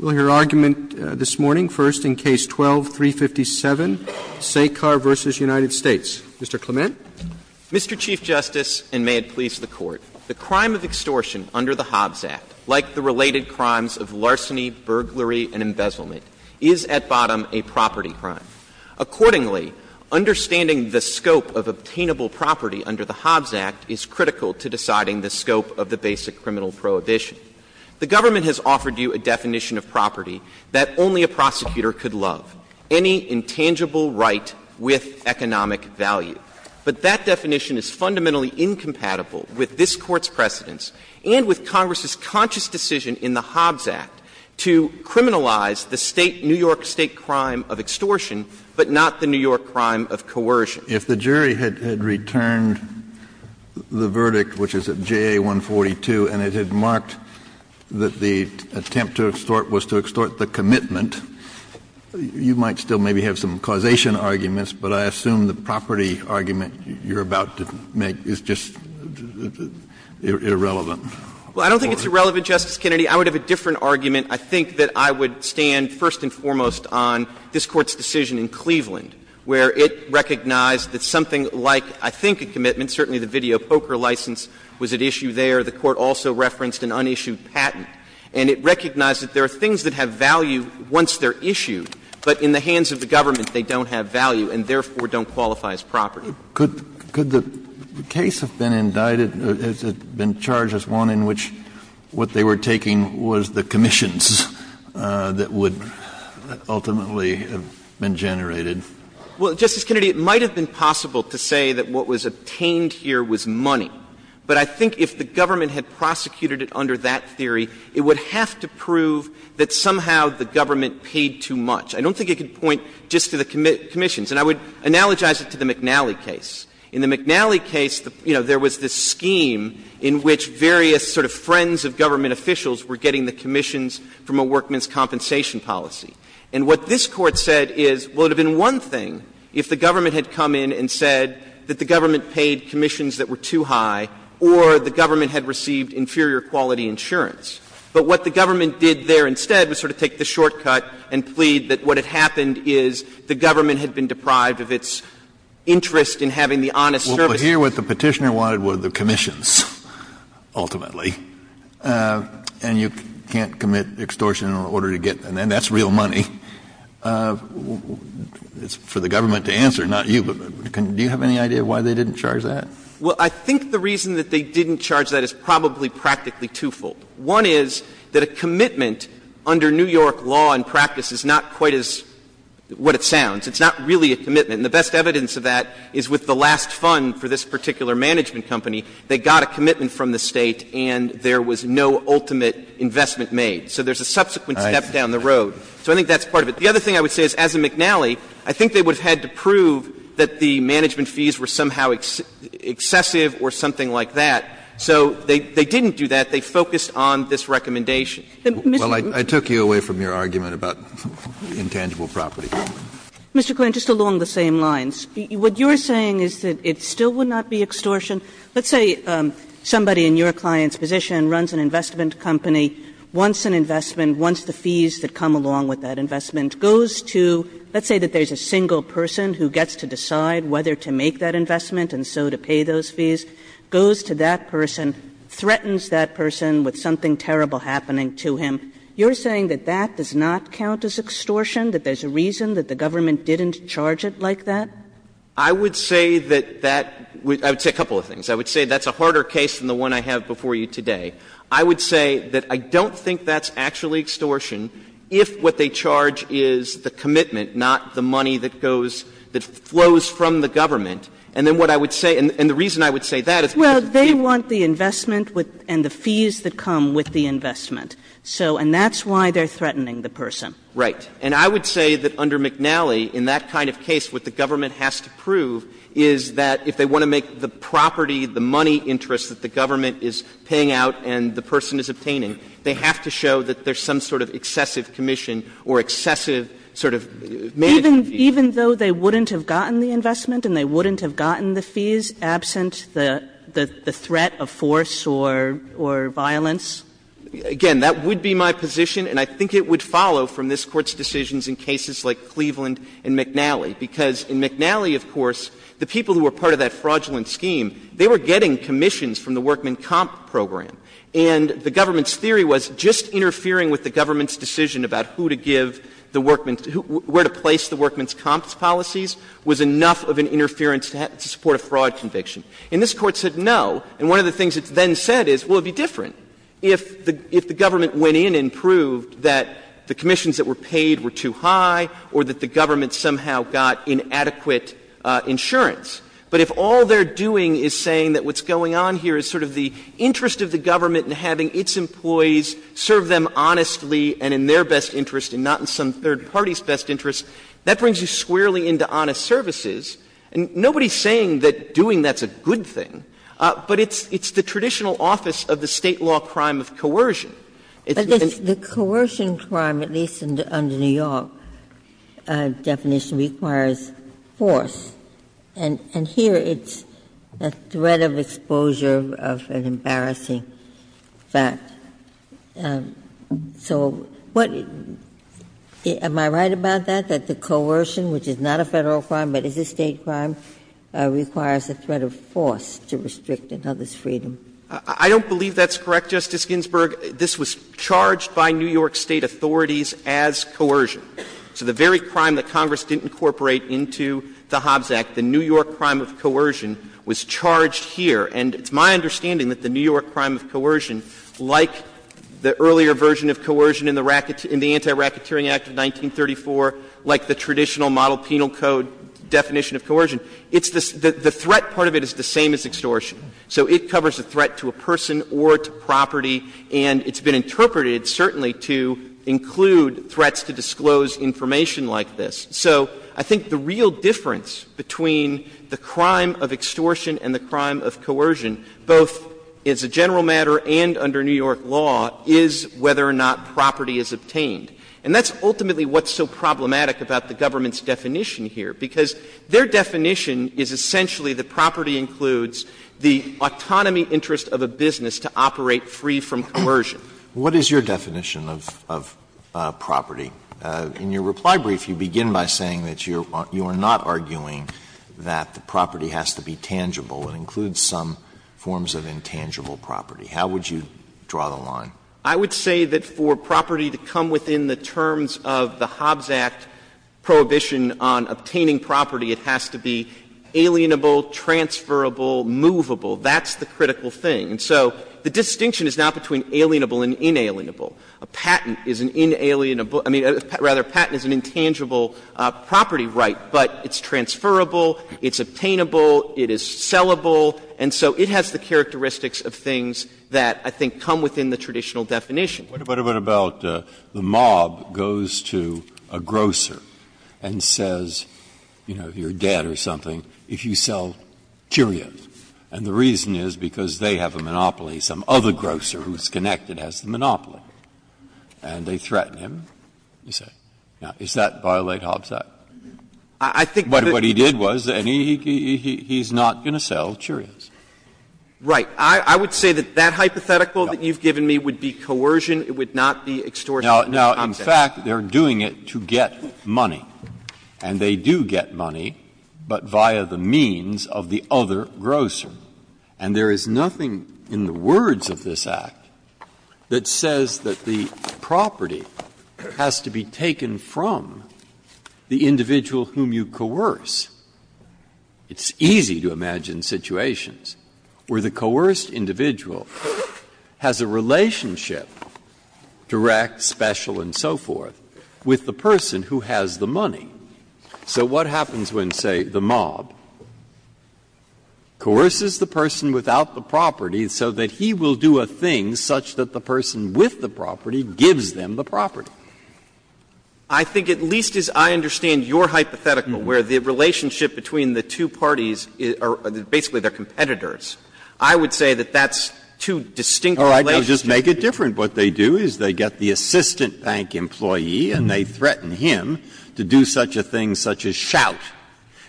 Mr. Clement. Mr. Chief Justice, and may it please the Court, the crime of extortion under the Hobbs Act, like the related crimes of larceny, burglary, and embezzlement, is at bottom a property crime. Accordingly, understanding the scope of obtainable property under the Hobbs Act is critical to deciding the scope of the basic criminal The government has offered you a definition of property that only a prosecutor could love, any intangible right with economic value. But that definition is fundamentally incompatible with this Court's precedents and with Congress's conscious decision in the Hobbs Act to criminalize the New York State crime of extortion, but not the New York crime of coercion. Kennedy. If the jury had returned the verdict, which is at JA 142, and it had marked that the attempt to extort was to extort the commitment, you might still maybe have some causation arguments, but I assume the property argument you're about to make is just irrelevant. Well, I don't think it's irrelevant, Justice Kennedy. I would have a different argument. I think that I would stand first and foremost on this Court's decision in Cleveland, where it recognized that something like, I think, a commitment, certainly the video poker license was at issue there. The Court also referenced an unissued patent. And it recognized that there are things that have value once they're issued, but in the hands of the government they don't have value and, therefore, don't qualify as property. Could the case have been indicted, has it been charged as one in which what they were taking was the commissions that would ultimately have been generated? Well, Justice Kennedy, it might have been possible to say that what was obtained here was money. But I think if the government had prosecuted it under that theory, it would have to prove that somehow the government paid too much. I don't think it could point just to the commissions. And I would analogize it to the McNally case. In the McNally case, you know, there was this scheme in which various sort of friends of government officials were getting the commissions from a workman's compensation policy. And what this Court said is, well, it would have been one thing if the government had come in and said that the government paid commissions that were too high or the government had received inferior quality insurance. But what the government did there instead was sort of take the shortcut and plead that what had happened is the government had been deprived of its interest in having the honest service. Kennedy, but here what the Petitioner wanted were the commissions, ultimately. And you can't commit extortion in order to get them, and that's real money. It's for the government to answer, not you. But do you have any idea why they didn't charge that? Well, I think the reason that they didn't charge that is probably practically twofold. One is that a commitment under New York law and practice is not quite as what it sounds. It's not really a commitment. And the best evidence of that is with the last fund for this particular management company, they got a commitment from the State and there was no ultimate investment made. So there's a subsequent step down the road. So I think that's part of it. The other thing I would say is, as in McNally, I think they would have had to prove that the management fees were somehow excessive or something like that. So they didn't do that. They focused on this recommendation. Well, I took you away from your argument about intangible property. Mr. Klant, just along the same lines, what you're saying is that it still would not be extortion. Let's say somebody in your client's position runs an investment company, wants an investment, wants the fees that come along with that investment, goes to let's say that there's a single person who gets to decide whether to make that investment and so to pay those fees, goes to that person, threatens that person with something terrible happening to him. You're saying that that does not count as extortion, that there's a reason that the government didn't charge it like that? I would say that that — I would say a couple of things. I would say that's a harder case than the one I have before you today. I would say that I don't think that's actually extortion if what they charge is the commitment, not the money that goes — that flows from the government. And then what I would say — and the reason I would say that is because of the fee. Well, they want the investment and the fees that come with the investment. So — and that's why they're threatening the person. Right. And I would say that under McNally, in that kind of case, what the government has to prove is that if they want to make the property, the money interest that the government is paying out and the person is obtaining, they have to show that there's some sort of excessive commission or excessive sort of management fee. Even though they wouldn't have gotten the investment and they wouldn't have gotten the fees absent the threat of force or violence? Again, that would be my position, and I think it would follow from this Court's decisions in cases like Cleveland and McNally, because in McNally, of course, the people who were part of that fraudulent scheme, they were getting commissions from the workman comp program, and the government's theory was just interfering with the government's decision about who to give the workman — where to place the workman's comps policies was enough of an interference to support a fraud conviction. And this Court said no, and one of the things it then said is, well, it would be different. If the government went in and proved that the commissions that were paid were too high or that the government somehow got inadequate insurance, but if all they're doing is saying that what's going on here is sort of the interest of the government in having its employees serve them honestly and in their best interest and not in some third party's best interest, that brings you squarely into honest services, and nobody's saying that doing that's a good thing, but it's the traditional office of the State law crime of coercion. It's because the State law crime of coercion, at least under New York, definition requires force, and here it's a threat of exposure of an embarrassing fact. So what — am I right about that, that the coercion, which is not a Federal crime but is a State crime, requires a threat of force to restrict another's freedom? I don't believe that's correct, Justice Ginsburg. This was charged by New York State authorities as coercion. So the very crime that Congress didn't incorporate into the Hobbs Act, the New York crime of coercion, was charged here. And it's my understanding that the New York crime of coercion, like the earlier version of coercion in the Anti-Racketeering Act of 1934, like the traditional model penal code definition of coercion, it's the — the threat part of it is the same as extortion. So it covers a threat to a person or to property, and it's been interpreted, certainly, to include threats to disclose information like this. So I think the real difference between the crime of extortion and the crime of coercion, both as a general matter and under New York law, is whether or not property is obtained. And that's ultimately what's so problematic about the government's definition here, because their definition is essentially that property includes the autonomy interest of a business to operate free from coercion. Alitoso, what is your definition of property? In your reply brief, you begin by saying that you are not arguing that the property has to be tangible. It includes some forms of intangible property. How would you draw the line? I would say that for property to come within the terms of the Hobbs Act prohibition on obtaining property, it has to be alienable, transferable, movable. That's the critical thing. And so the distinction is not between alienable and inalienable. A patent is an inalienable — I mean, rather, a patent is an intangible property right, but it's transferable, it's obtainable, it is sellable, and so it has the characteristics of things that I think come within the traditional definition. Breyer, what about the mob goes to a grocer and says, you know, you're dead or something if you sell Cheerios, and the reason is because they have a monopoly, some other grocer who's connected has the monopoly, and they threaten him, you say. Now, does that violate Hobbs Act? I think that's what he did was, and he's not going to sell Cheerios. Right. I would say that that hypothetical that you've given me would be coercion. It would not be extortion. Now, in fact, they're doing it to get money, and they do get money, but via the means of the other grocer. And there is nothing in the words of this Act that says that the property has to be taken from the individual whom you coerce. It's easy to imagine situations where the coerced individual has a relationship, direct, special, and so forth, with the person who has the money. So what happens when, say, the mob coerces the person without the property so that he will do a thing such that the person with the property gives them the property? I think at least as I understand your hypothetical, where the relationship between the two parties are basically their competitors, I would say that that's two distinct relationships. Breyer. Oh, I could just make it different. What they do is they get the assistant bank employee, and they threaten him to do such a thing such as shout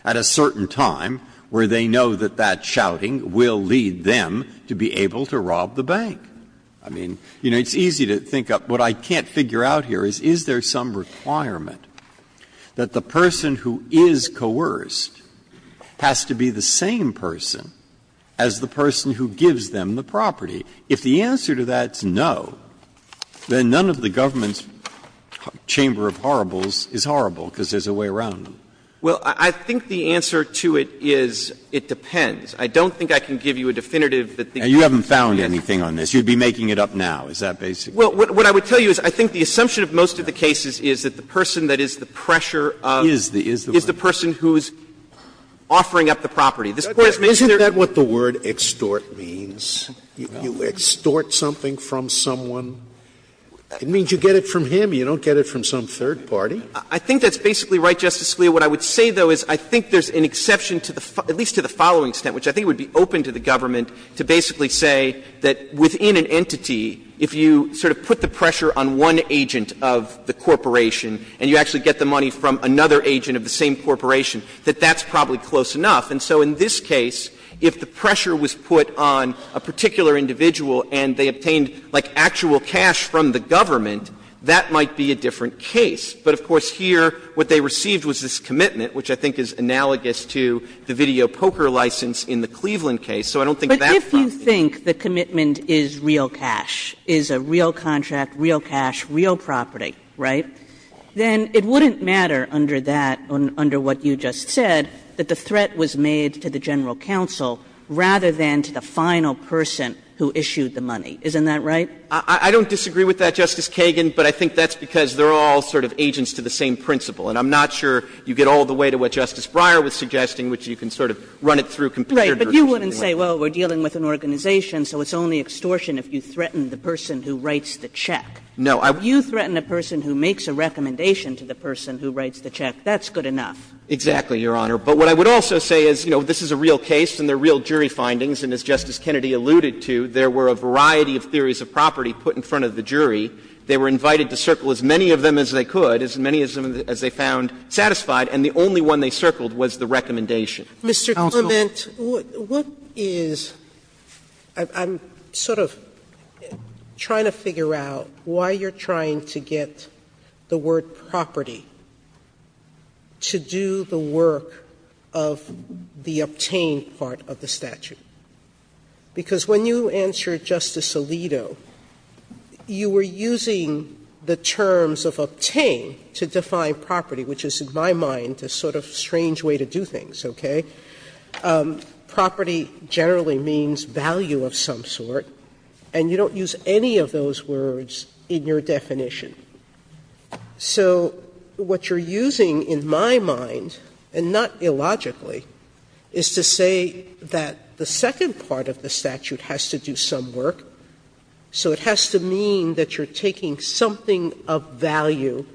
at a certain time where they know that that shouting will lead them to be able to rob the bank. I mean, you know, it's easy to think of what I can't figure out here is, is there some requirement that the person who is coerced has to be the same person as the person who gives them the property? If the answer to that is no, then none of the government's chamber of horribles is horrible because there's a way around them. Well, I think the answer to it is it depends. I don't think I can give you a definitive that the government's plan is. And you haven't found anything on this. But you'd be making it up now, is that basically it? Well, what I would tell you is I think the assumption of most of the cases is that the person that is the pressure of is the person who is offering up the property. Isn't that what the word extort means? You extort something from someone. It means you get it from him. You don't get it from some third party. I think that's basically right, Justice Scalia. What I would say, though, is I think there's an exception to the following extent, which I think would be open to the government to basically say that within an entity, if you sort of put the pressure on one agent of the corporation and you actually get the money from another agent of the same corporation, that that's probably close enough. And so in this case, if the pressure was put on a particular individual and they obtained, like, actual cash from the government, that might be a different case. But, of course, here, what they received was this commitment, which I think is analogous to the video poker license in the Cleveland case. So I don't think that's probably it. Kagan. But if you think the commitment is real cash, is a real contract, real cash, real property, right, then it wouldn't matter under that, under what you just said, that the threat was made to the general counsel rather than to the final person who issued the money. Isn't that right? I don't disagree with that, Justice Kagan, but I think that's because they're all sort of agents to the same principle. And I'm not sure you get all the way to what Justice Breyer was suggesting, which you can sort of run it through computer. Kagan. But you wouldn't say, well, we're dealing with an organization, so it's only extortion if you threaten the person who writes the check. No. You threaten a person who makes a recommendation to the person who writes the check, that's good enough. Exactly, Your Honor. But what I would also say is, you know, this is a real case and they're real jury findings, and as Justice Kennedy alluded to, there were a variety of theories of property put in front of the jury. They were invited to circle as many of them as they could, as many as they found satisfied, and the only one they circled was the recommendation. Mr. Clement, what is – I'm sort of trying to figure out why you're trying to get the word property to do the work of the obtained part of the statute. Because when you answered Justice Alito, you were using the terms of obtained to define property, which is, in my mind, a sort of strange way to do things, okay? Property generally means value of some sort, and you don't use any of those words in your definition. So what you're using in my mind, and not illogically, is to say that the statute – the second part of the statute has to do some work, so it has to mean that you're taking something of value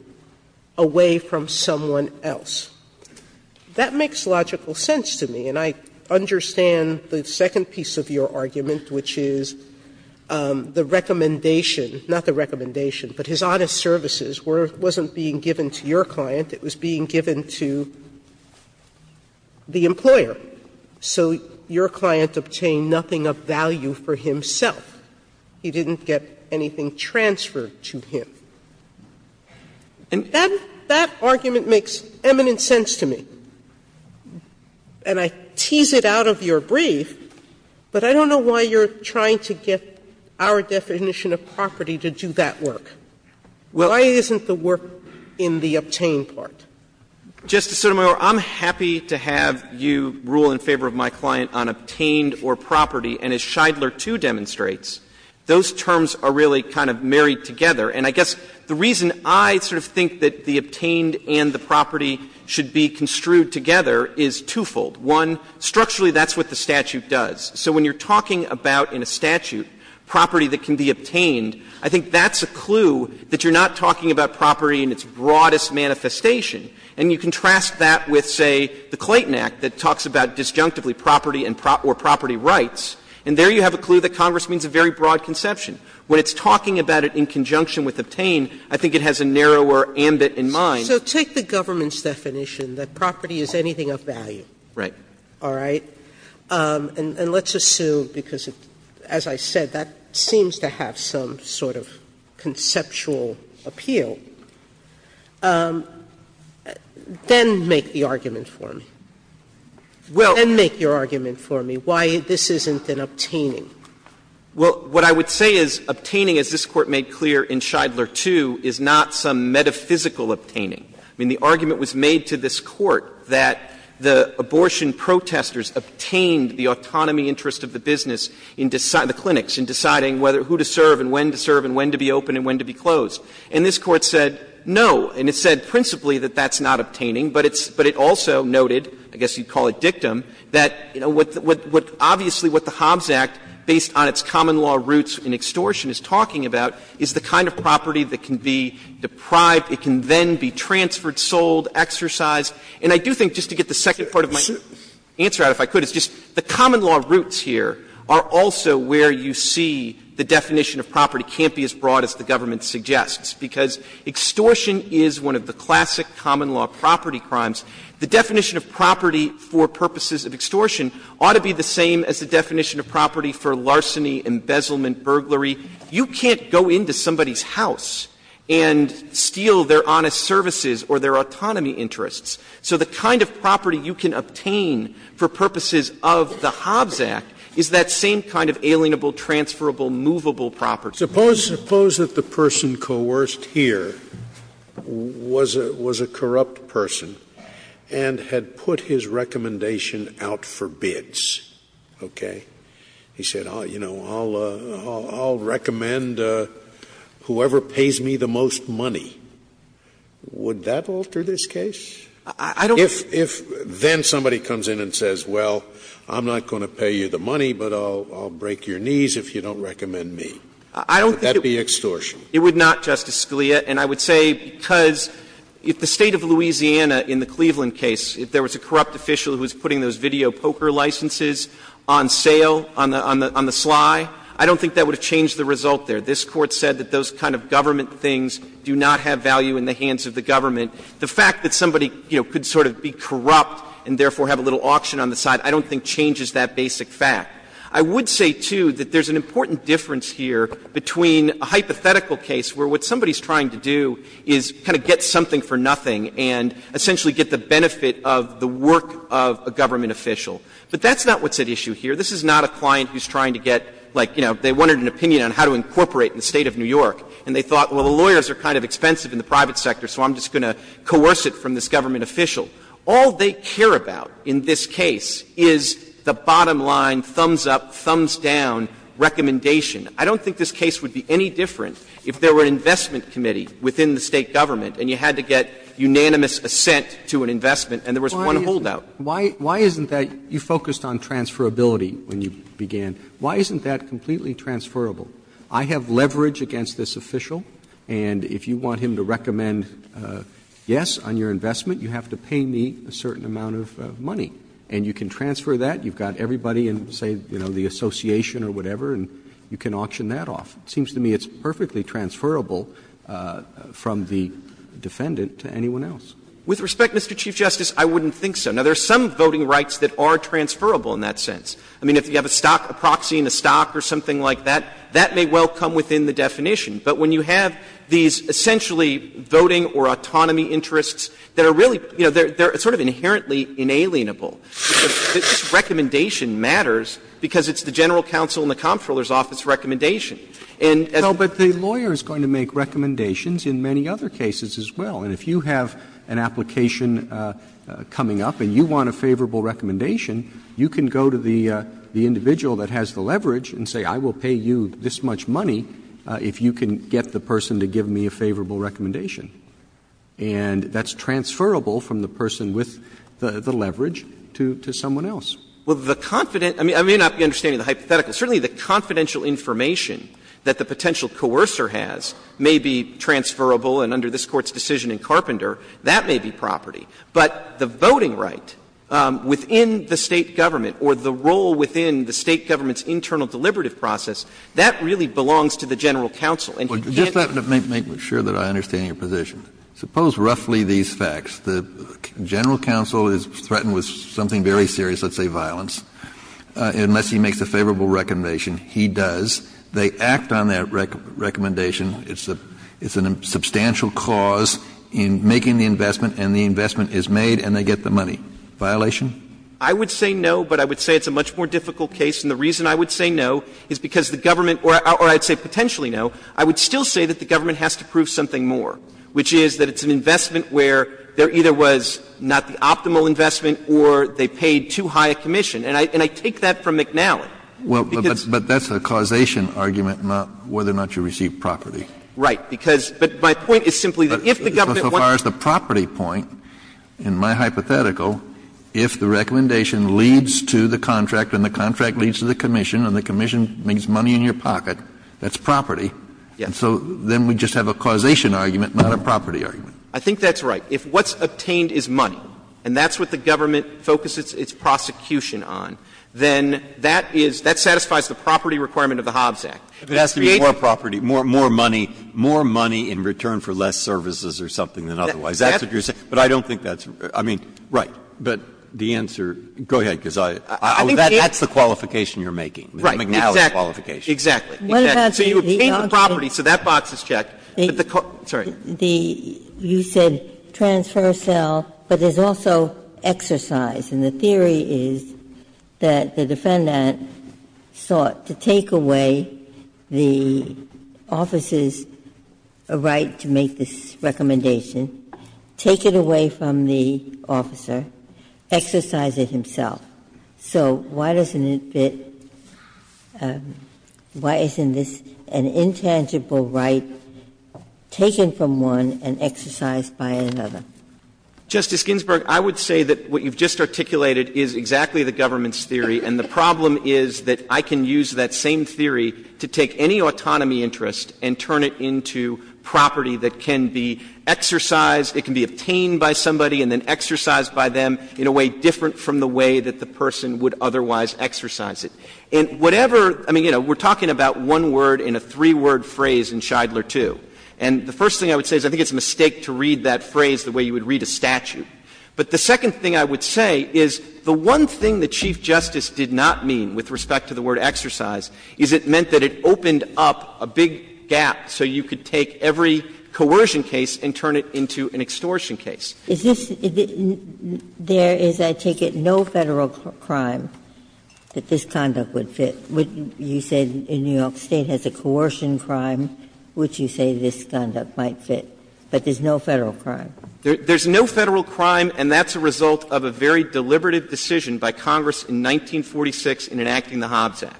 away from someone else. That makes logical sense to me, and I understand the second piece of your argument, which is the recommendation, not the recommendation, but his honest services wasn't being given to your client, it was being given to the employer. So your client obtained nothing of value for himself. He didn't get anything transferred to him. And that argument makes eminent sense to me. And I tease it out of your brief, but I don't know why you're trying to get our definition of property to do that work. Why isn't the work in the obtained part? Justice Sotomayor, I'm happy to have you rule in favor of my client on obtained or property, and as Shidler too demonstrates, those terms are really kind of married together. And I guess the reason I sort of think that the obtained and the property should be construed together is twofold. One, structurally that's what the statute does. So when you're talking about in a statute property that can be obtained, I think that's a clue that you're not talking about property in its broadest manifestation. And you contrast that with, say, the Clayton Act that talks about disjunctively property and property rights, and there you have a clue that Congress means a very broad conception. When it's talking about it in conjunction with obtained, I think it has a narrower ambit in mind. Sotomayor, so take the government's definition that property is anything of value. Right. All right? And let's assume, because as I said, that seems to have some sort of conceptual appeal. Then make the argument for me. Then make your argument for me why this isn't an obtaining. Well, what I would say is obtaining, as this Court made clear in Shidler too, is not some metaphysical obtaining. I mean, the argument was made to this Court that the abortion protesters obtained the autonomy interest of the business in deciding the clinics, in deciding whether who to serve and when to serve and when to be open and when to be closed. And this Court said no, and it said principally that that's not obtaining. But it's also noted, I guess you'd call it dictum, that, you know, what obviously what the Hobbs Act, based on its common law roots in extortion, is talking about is the kind of property that can be deprived, it can then be transferred, sold, exercised. And I do think, just to get the second part of my answer out, if I could, it's just the common law roots here are also where you see the definition of property can't be as broad as the government suggests, because extortion is one of the classic common law property crimes. The definition of property for purposes of extortion ought to be the same as the definition of property for larceny, embezzlement, burglary. You can't go into somebody's house and steal their honest services or their autonomy interests. So the kind of property you can obtain for purposes of the Hobbs Act is that same kind of alienable, transferable, movable property. Scalia. Suppose that the person coerced here was a corrupt person and had put his recommendation out for bids, okay? He said, you know, I'll recommend whoever pays me the most money. Would that alter this case? If then somebody comes in and says, well, I'm not going to pay you the money, but I'll break your knees if you don't recommend me, would that be extortion? It would not, Justice Scalia. And I would say because if the State of Louisiana in the Cleveland case, if there was a corrupt official who was putting those video poker licenses on sale, on the sly, I don't think that would have changed the result there. This Court said that those kind of government things do not have value in the hands of the government. The fact that somebody, you know, could sort of be corrupt and therefore have a little auction on the side, I don't think changes that basic fact. I would say, too, that there's an important difference here between a hypothetical case where what somebody is trying to do is kind of get something for nothing and essentially get the benefit of the work of a government official. But that's not what's at issue here. This is not a client who's trying to get, like, you know, they wanted an opinion on how to incorporate in the State of New York, and they thought, well, the lawyers are kind of expensive in the private sector, so I'm just going to coerce it from this government official. All they care about in this case is the bottom line, thumbs up, thumbs down recommendation. And that's not what the Court is trying to do. It's trying to get a unanimous consent committee within the State government, and you had to get unanimous assent to an investment, and there was one holdout. Roberts. Why isn't that you focused on transferability when you began. Why isn't that completely transferable? I have leverage against this official, and if you want him to recommend yes on your investment, you have to pay me a certain amount of money. And you can transfer that. You've got everybody in, say, you know, the association or whatever, and you can auction that off. It seems to me it's perfectly transferable from the defendant to anyone else. With respect, Mr. Chief Justice, I wouldn't think so. Now, there are some voting rights that are transferable in that sense. I mean, if you have a stock, a proxy in a stock or something like that, that may well come within the definition. But when you have these essentially voting or autonomy interests that are really you know, they're sort of inherently inalienable. This recommendation matters because it's the general counsel in the Comptroller's office recommendation. And as a lawyer is going to make recommendations in many other cases as well. And if you have an application coming up and you want a favorable recommendation, you can go to the individual that has the leverage and say, I will pay you this much money if you can get the person to give me a favorable recommendation. And that's transferable from the person with the leverage to someone else. Well, the confident – I mean, I may not be understanding the hypothetical. Certainly, the confidential information that the potential coercer has may be transferable and under this Court's decision in Carpenter, that may be property. But the voting right within the State government or the role within the State government's internal deliberative process, that really belongs to the general counsel. Kennedy, just to make sure that I understand your position, suppose roughly these facts. The general counsel is threatened with something very serious, let's say violence, unless he makes a favorable recommendation. He does. They act on that recommendation. It's a substantial cause in making the investment and the investment is made and they get the money. Violation? I would say no, but I would say it's a much more difficult case. And the reason I would say no is because the government – or I would say potentially no – I would still say that the government has to prove something more, which is that it's an investment where there either was not the optimal investment or they paid too high a commission. And I take that from McNally, because – Well, but that's a causation argument, not whether or not you receive property. Right. Because – but my point is simply that if the government wants – But so far as the property point, in my hypothetical, if the recommendation leads to the contract and the contract leads to the commission and the commission makes money in your pocket, that's property. And so then we just have a causation argument, not a property argument. I think that's right. If what's obtained is money, and that's what the government focuses its prosecution on, then that is – that satisfies the property requirement of the Hobbs Act. If it has to be more property, more money, more money in return for less services or something than otherwise. That's what you're saying. But I don't think that's – I mean, right. But the answer – go ahead, because I – that's the qualification you're making. The McNally qualification. Exactly. Exactly. So you obtain the property, so that box is checked, but the – sorry. The – you said transfer cell, but there's also exercise. And the theory is that the defendant sought to take away the officer's right to make this recommendation, take it away from the officer, exercise it himself. So why doesn't it fit – why isn't this an intangible right taken from one and exercised by another? Justice Ginsburg, I would say that what you've just articulated is exactly the government's theory, and the problem is that I can use that same theory to take any autonomy interest and turn it into property that can be exercised, it can be obtained by somebody and then exercised by them in a way different from the way that the person would otherwise exercise it. And whatever – I mean, you know, we're talking about one word in a three-word phrase in Shidler II, and the first thing I would say is I think it's a mistake to read that phrase the way you would read a statute. But the second thing I would say is the one thing that Chief Justice did not mean with respect to the word exercise is it meant that it opened up a big gap so you could take every coercion case and turn it into an extortion case. Ginsburg. Is this – there is, I take it, no Federal crime that this conduct would fit? You said in New York State has a coercion crime which you say this conduct might fit, but there's no Federal crime? There's no Federal crime, and that's a result of a very deliberative decision by Congress in 1946 in enacting the Hobbs Act.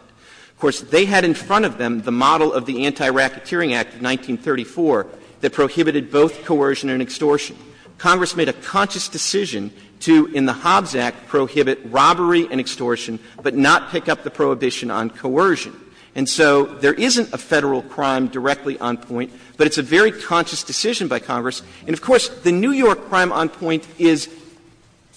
Of course, they had in front of them the model of the Anti-Racketeering Act of 1934 that prohibited both coercion and extortion. Congress made a conscious decision to, in the Hobbs Act, prohibit robbery and extortion, but not pick up the prohibition on coercion. And so there isn't a Federal crime directly on point, but it's a very conscious decision by Congress. And of course, the New York crime on point is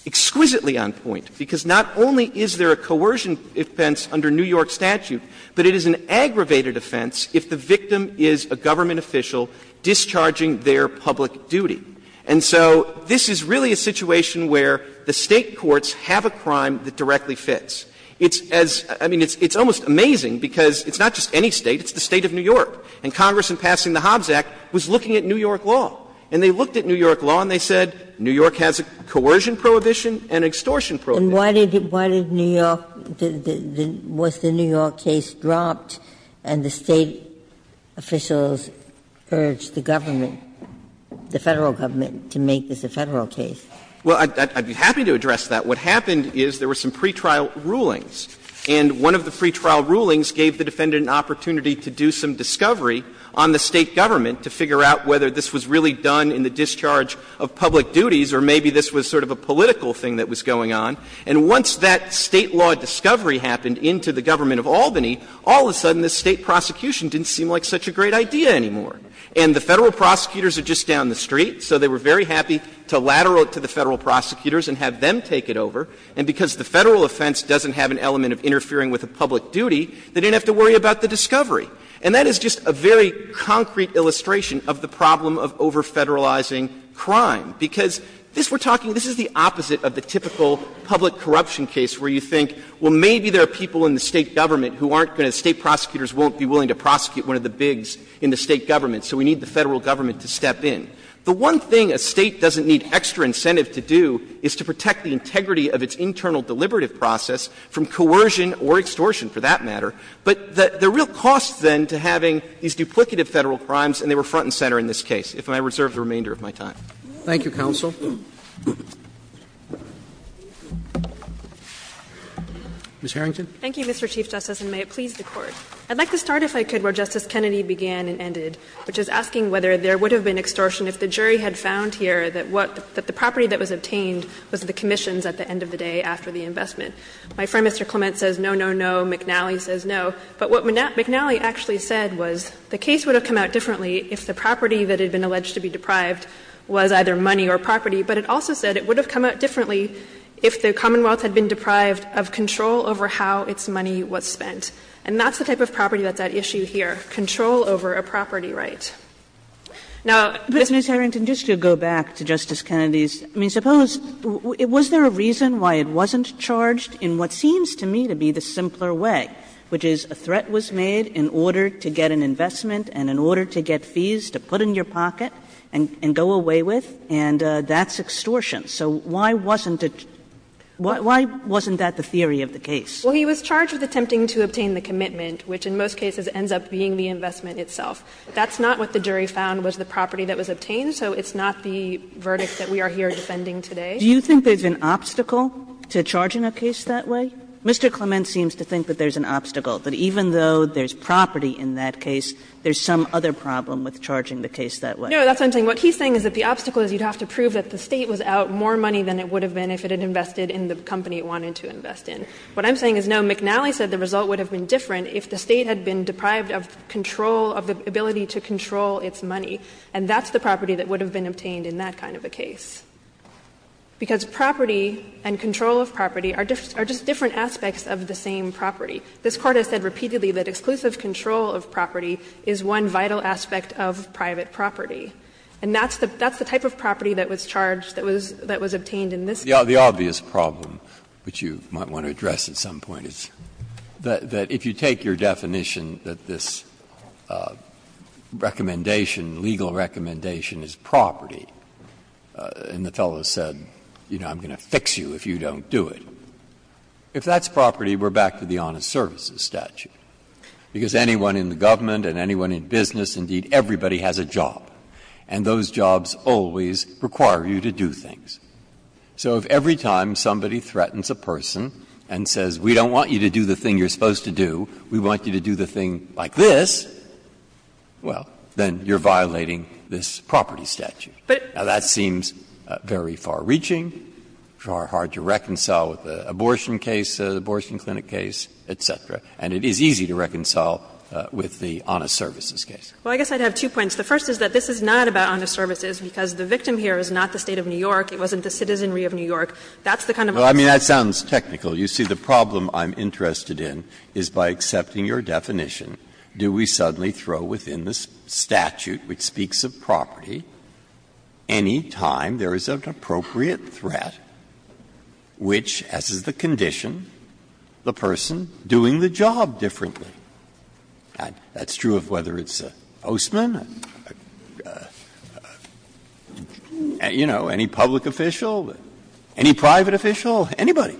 exquisitely on point, because not only is there a coercion offense under New York statute, but it is an aggravated offense if the victim is a government official discharging their public duty. And so this is really a situation where the State courts have a crime that directly fits. It's as – I mean, it's almost amazing, because it's not just any State, it's the State of New York. And Congress, in passing the Hobbs Act, was looking at New York law. And they looked at New York law and they said, New York has a coercion prohibition and an extortion prohibition. Ginsburg. And why did New York – was the New York case dropped and the State officials urged the government, the Federal government, to make this a Federal case? Well, I'd be happy to address that. What happened is there were some pretrial rulings, and one of the pretrial rulings gave the defendant an opportunity to do some discovery on the State government to figure out whether this was really done in the discharge of public duties or maybe this was sort of a political thing that was going on. And once that State law discovery happened into the government of Albany, all of a sudden the State prosecution didn't seem like such a great idea anymore. And the Federal prosecutors are just down the street, so they were very happy to lateral it to the Federal prosecutors and have them take it over. And because the Federal offense doesn't have an element of interfering with a public duty, they didn't have to worry about the discovery. And that is just a very concrete illustration of the problem of over-Federalizing crime, because this, we're talking, this is the opposite of the typical public corruption case where you think, well, maybe there are people in the State government who aren't going to, State prosecutors won't be willing to prosecute one of the bigs in the State government, so we need the Federal government to step in. The one thing a State doesn't need extra incentive to do is to protect the integrity of its internal deliberative process from coercion or extortion, for that matter. But the real cost, then, to having these duplicative Federal crimes, and they were front and center in this case, if I reserve the remainder of my time. Roberts Thank you, counsel. Ms. Harrington. Harrington Thank you, Mr. Chief Justice, and may it please the Court. I'd like to start, if I could, where Justice Kennedy began and ended, which is asking whether there would have been extortion if the jury had found here that what the property that was obtained was the commissions at the end of the day after the investment. My friend, Mr. Clement, says no, no, no. McNally says no, but what McNally actually said was the case would have come out differently if the property that had been alleged to be deprived was either money or property, but it also said it would have come out differently if the Commonwealth had been deprived of control over how its money was spent. And that's the type of property that's at issue here, control over a property Now, this one's a little bit more complicated than that, but it's a little bit more complicated than that. Kagan Now, Ms. Harrington, just to go back to Justice Kennedy's, I mean, suppose was there a reason why it wasn't charged in what seems to me to be the simpler way, which is a threat was made in order to get an investment and in order to get fees to put in your pocket and go away with, and that's extortion. So why wasn't it, why wasn't that the theory of the case? Harrington Well, he was charged with attempting to obtain the commitment, which in most cases ends up being the investment itself. That's not what the jury found was the property that was obtained, so it's not the Kagan Do you think there's an obstacle to charging a case that way? Mr. Clement seems to think that there's an obstacle, that even though there's property in that case, there's some other problem with charging the case that way. Harrington No, that's what I'm saying. What he's saying is that the obstacle is you'd have to prove that the State was out more money than it would have been if it had invested in the company it wanted to invest in. What I'm saying is, no, McNally said the result would have been different if the State had been deprived of control, of the ability to control its money, and that's the property that would have been obtained in that kind of a case. Because property and control of property are just different aspects of the same property. This Court has said repeatedly that exclusive control of property is one vital aspect of private property. And that's the type of property that was charged, that was obtained in this case. Breyer The obvious problem, which you might want to address at some point, is that if you take your definition that this recommendation, legal recommendation is property, and the fellow said, you know, I'm going to fix you if you don't do it, if that's property, we're back to the honest services statute. Because anyone in the government and anyone in business, indeed, everybody has a job, and those jobs always require you to do things. So if every time somebody threatens a person and says, we don't want you to do the thing you're supposed to do, we want you to do the thing like this, well, then you're breaking the property statute. Now, that seems very far-reaching, hard to reconcile with the abortion case, the abortion clinic case, et cetera. And it is easy to reconcile with the honest services case. Harrington Well, I guess I'd have two points. The first is that this is not about honest services, because the victim here is not the State of New York. It wasn't the citizenry of New York. That's the kind of answer. Breyer No, I mean, that sounds technical. You see, the problem I'm interested in is by accepting your definition, do we suddenly throw within the statute, which speaks of property, any time there is an appropriate threat which, as is the condition, the person doing the job differently? That's true of whether it's a postman, you know, any public official, any private official, anybody.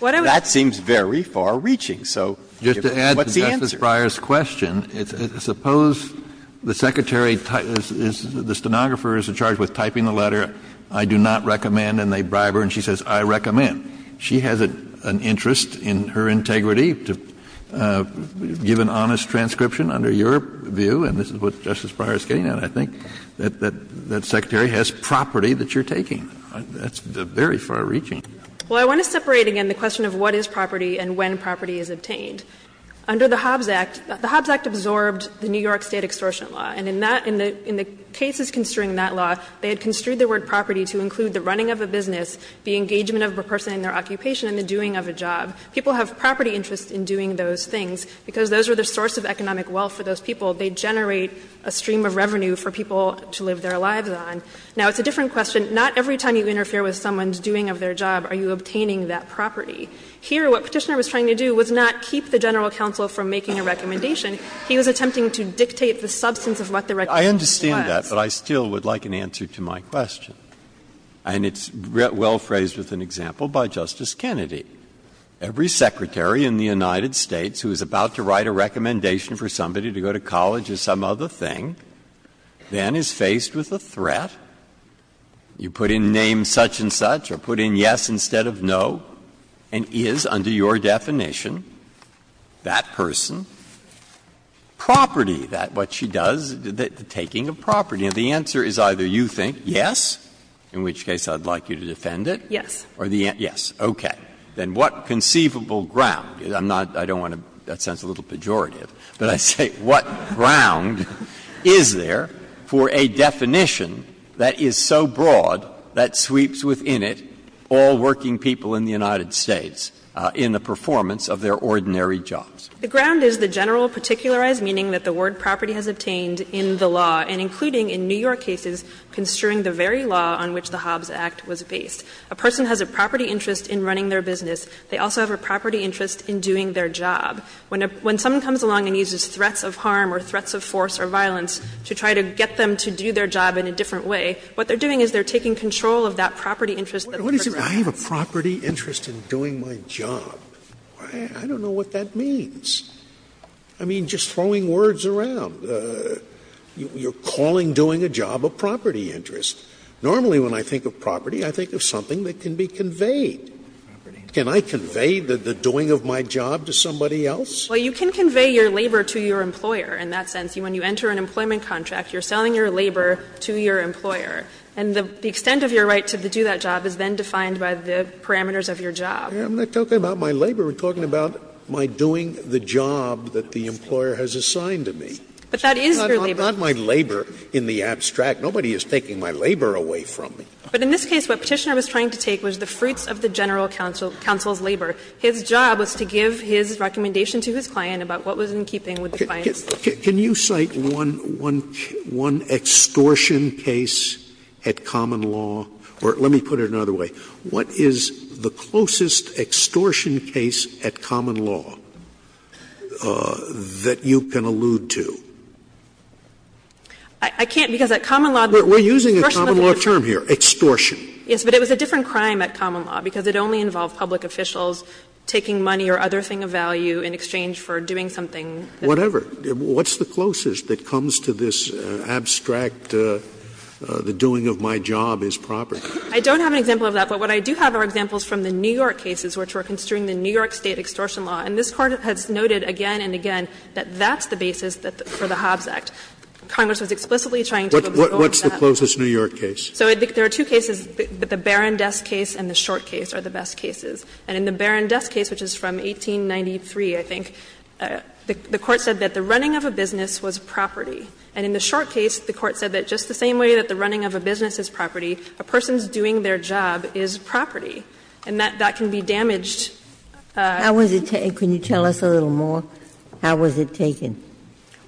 That seems very far-reaching, so what's the answer? Kennedy Well, to Justice Breyer's question, suppose the Secretary is the stenographer is in charge with typing the letter, I do not recommend, and they bribe her, and she says, I recommend. She has an interest in her integrity to give an honest transcription under your view, and this is what Justice Breyer is getting at, I think, that that Secretary has property that you're taking. That's very far-reaching. Harrington Well, I want to separate again the question of what is property and when property is obtained. Under the Hobbs Act, the Hobbs Act absorbed the New York State extortion law, and in that, in the cases construing that law, they had construed the word property to include the running of a business, the engagement of a person in their occupation, and the doing of a job. People have property interests in doing those things, because those are the source of economic wealth for those people. They generate a stream of revenue for people to live their lives on. Now, it's a different question. Not every time you interfere with someone's doing of their job are you obtaining that property. Here, what Petitioner was trying to do was not keep the general counsel from making a recommendation. He was attempting to dictate the substance of what the recommendation was. Breyer, I understand that, but I still would like an answer to my question. And it's well phrased with an example by Justice Kennedy. Every Secretary in the United States who is about to write a recommendation for somebody to go to college or some other thing, then is faced with a threat. You put in name such and such, or put in yes instead of no. And is, under your definition, that person, property, that what she does, the taking of property? And the answer is either you think yes, in which case I would like you to defend it. Yes. Or the answer yes. Okay. Then what conceivable ground? I'm not going to want to be that sounds a little pejorative, but I say what ground is there for a definition that is so broad that sweeps within it all working people in the United States in the performance of their ordinary jobs? The ground is the general particularized meaning that the word property has obtained in the law, and including in New York cases construing the very law on which the Hobbs Act was based. A person has a property interest in running their business. They also have a property interest in doing their job. When someone comes along and uses threats of harm or threats of force or violence to try to get them to do their job in a different way, what they're doing is they're taking control of that property interest that the person has. Scalia I have a property interest in doing my job. I don't know what that means. I mean, just throwing words around. You're calling doing a job a property interest. Normally when I think of property, I think of something that can be conveyed. Can I convey the doing of my job to somebody else? Well, you can convey your labor to your employer in that sense. When you enter an employment contract, you're selling your labor to your employer. And the extent of your right to do that job is then defined by the parameters of your job. Scalia I'm not talking about my labor. I'm talking about my doing the job that the employer has assigned to me. But that is your labor. Scalia Not my labor in the abstract. Nobody is taking my labor away from me. But in this case, what Petitioner was trying to take was the fruits of the general counsel's labor. His job was to give his recommendation to his client about what was in keeping with the client's. Scalia Can you cite one extortion case at common law? Or let me put it another way. What is the closest extortion case at common law that you can allude to? We're using a common law term here, extortion. Yes, but it was a different crime at common law, because it only involved public officials taking money or other thing of value in exchange for doing something that was not a crime. Whatever. What's the closest that comes to this abstract, the doing of my job is proper? I don't have an example of that, but what I do have are examples from the New York cases, which were construing the New York State extortion law. And this Court has noted again and again that that's the basis for the Hobbs Act. Congress was explicitly trying to get rid of that. What's the closest New York case? So there are two cases, the Barron desk case and the short case are the best cases. And in the Barron desk case, which is from 1893, I think, the Court said that the running of a business was property. And in the short case, the Court said that just the same way that the running of a business is property, a person's doing their job is property. And that can be damaged. How was it taken? Can you tell us a little more? How was it taken?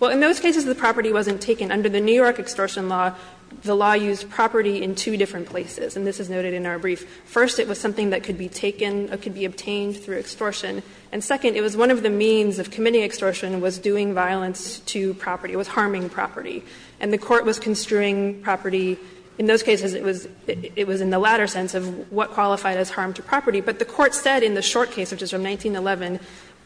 Well, in those cases, the property wasn't taken. Under the New York extortion law, the law used property in two different places, and this is noted in our brief. First, it was something that could be taken or could be obtained through extortion. And second, it was one of the means of committing extortion was doing violence to property, was harming property. And the Court was construing property. In those cases, it was in the latter sense of what qualified as harm to property. But the Court said in the short case, which is from 1911,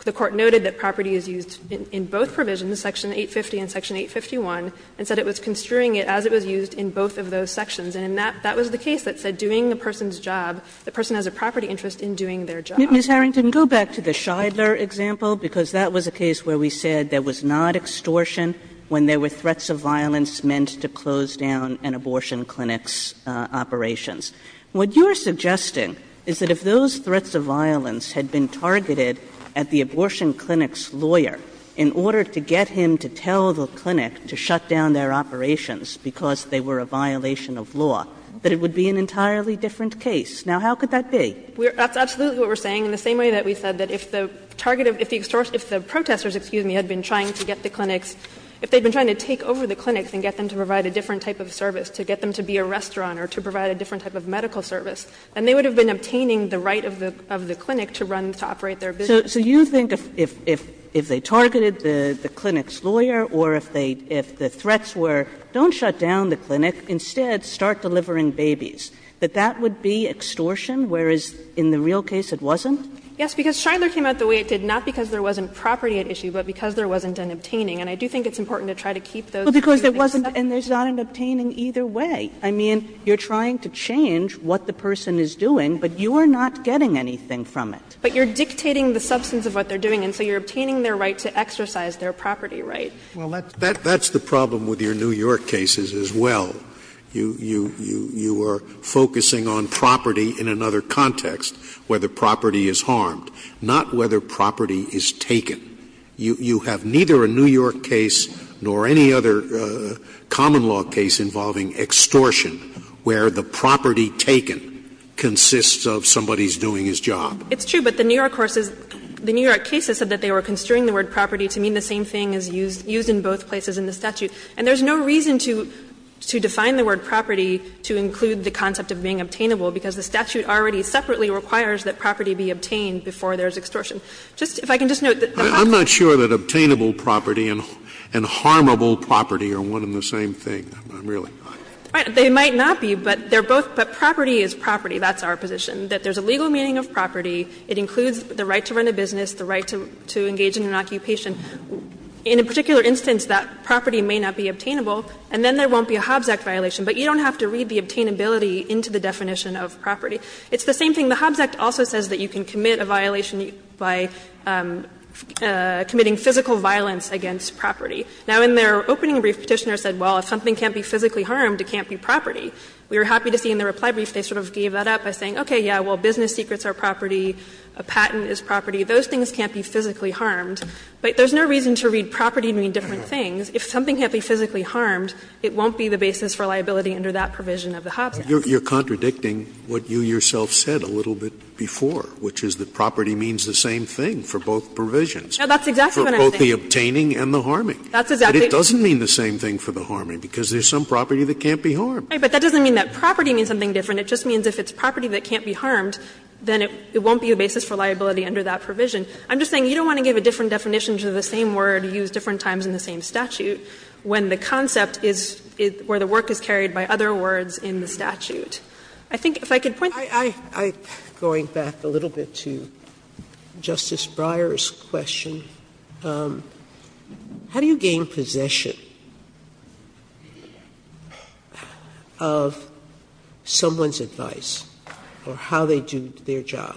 the Court noted that property is used in both provisions, section 850 and section 851, and said it was construing it as it was used in both of those sections. And in that, that was the case that said doing the person's job, the person has a property interest in doing their job. Ms. Harrington, go back to the Shidler example, because that was a case where we said there was not extortion when there were threats of violence meant to close down an abortion clinic's operations. What you are suggesting is that if those threats of violence had been targeted at the abortion clinic's lawyer in order to get him to tell the clinic to shut down their operations because they were a violation of law, that it would be an entirely different case. Now, how could that be? Harrington, That's absolutely what we are saying. In the same way that we said that if the target of the extortion, if the protesters, excuse me, had been trying to get the clinics, if they had been trying to take over the clinics and get them to provide a different type of service, to get them to be a restaurant or to provide a different type of medical service, then they would have been obtaining the right of the clinic to run, to operate their business. Kagan So you think if they targeted the clinic's lawyer or if they – if the threats were don't shut down the clinic, instead start delivering babies, that that would be extortion, whereas in the real case it wasn't? Harrington, Yes, because Shidler came out the way it did, not because there wasn't property at issue, but because there wasn't an obtaining. And I do think it's important to try to keep those things separate. Kagan And there's not an obtaining either way. I mean, you are trying to change what the person is doing, but you are not getting anything from it. But you are dictating the substance of what they are doing, and so you are obtaining their right to exercise their property right. Scalia Well, that's the problem with your New York cases as well. You are focusing on property in another context, where the property is harmed, not whether property is taken. You have neither a New York case nor any other common law case involving extortion where the property taken consists of somebody's doing his job. Harrington, It's true, but the New York courses, the New York cases said that they were constraining the word property to mean the same thing as used in both places in the statute. And there is no reason to define the word property to include the concept of being obtainable, because the statute already separately requires that property be obtained before there is extortion. Just, if I can just note that the property is obtained before there is extortion. Scalia I'm not sure that obtainable property and harmable property are one and the same thing. I'm really not. Harrington, They might not be, but they are both, but property is property. That's our position. That there is a legal meaning of property. It includes the right to run a business, the right to engage in an occupation. In a particular instance, that property may not be obtainable, and then there won't be a Hobbs Act violation. But you don't have to read the obtainability into the definition of property. It's the same thing. The Hobbs Act also says that you can commit a violation by committing physical violence against property. Now, in their opening brief, Petitioner said, well, if something can't be physically harmed, it can't be property. We were happy to see in the reply brief they sort of gave that up by saying, okay, yeah, well, business secrets are property, a patent is property. Those things can't be physically harmed. But there's no reason to read property to mean different things. If something can't be physically harmed, it won't be the basis for liability under that provision of the Hobbs Act. Scalia You're contradicting what you yourself said a little bit before, which is that property means the same thing for both provisions. Harrington, No, that's exactly what I'm saying. Scalia For both the obtaining and the harming. Harrington, That's exactly. Scalia But it doesn't mean the same thing for the harming, because there's some property that can't be harmed. Harrington, Right, but that doesn't mean that property means something different. It just means if it's property that can't be harmed, then it won't be a basis for liability under that provision. I'm just saying you don't want to give a different definition to the same word used different times in the same statute when the concept is where the work is carried by other words in the statute. I think if I could point to that. Sotomayor Going back a little bit to Justice Breyer's question, how do you gain possession of someone's advice or how they do their job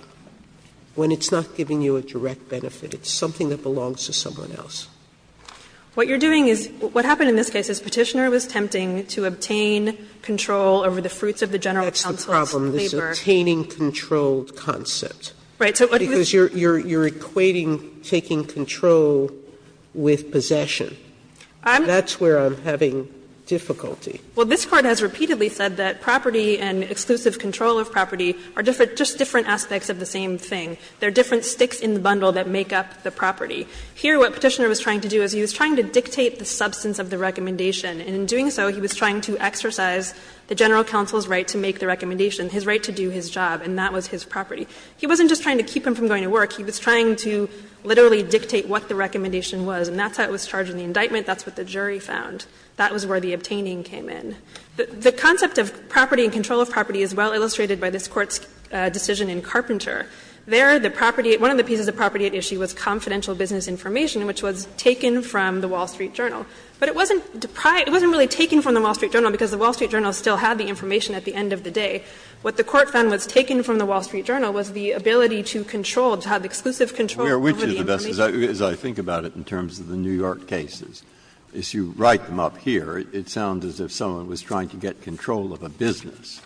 when it's not giving you a direct benefit, it's something that belongs to someone else? Harrington, What you're doing is what happened in this case is Petitioner was attempting to obtain control over the fruits of the general counsel's labor. Sotomayor That's the problem. This is an obtaining-controlled concept. Harrington, Right. Sotomayor Because you're equating taking control with possession. That's where I'm having difficulty. Harrington, Well, this Court has repeatedly said that property and exclusive control of property are just different aspects of the same thing. They're different sticks in the bundle that make up the property. Here what Petitioner was trying to do is he was trying to dictate the substance of the recommendation, and in doing so he was trying to exercise the general counsel's right to make the recommendation, his right to do his job, and that was his property. He wasn't just trying to keep him from going to work. He was trying to literally dictate what the recommendation was, and that's how it was charged in the indictment. That's what the jury found. That was where the obtaining came in. The concept of property and control of property is well illustrated by this Court's decision in Carpenter. There, the property at one of the pieces of property at issue was confidential business information, which was taken from the Wall Street Journal. But it wasn't deprived, it wasn't really taken from the Wall Street Journal because the Wall Street Journal still had the information at the end of the day. What the Court found was taken from the Wall Street Journal was the ability to control, to have exclusive control over the information. Breyer, as I think about it in terms of the New York cases, as you write them up here, it sounds as if someone was trying to get control of a business.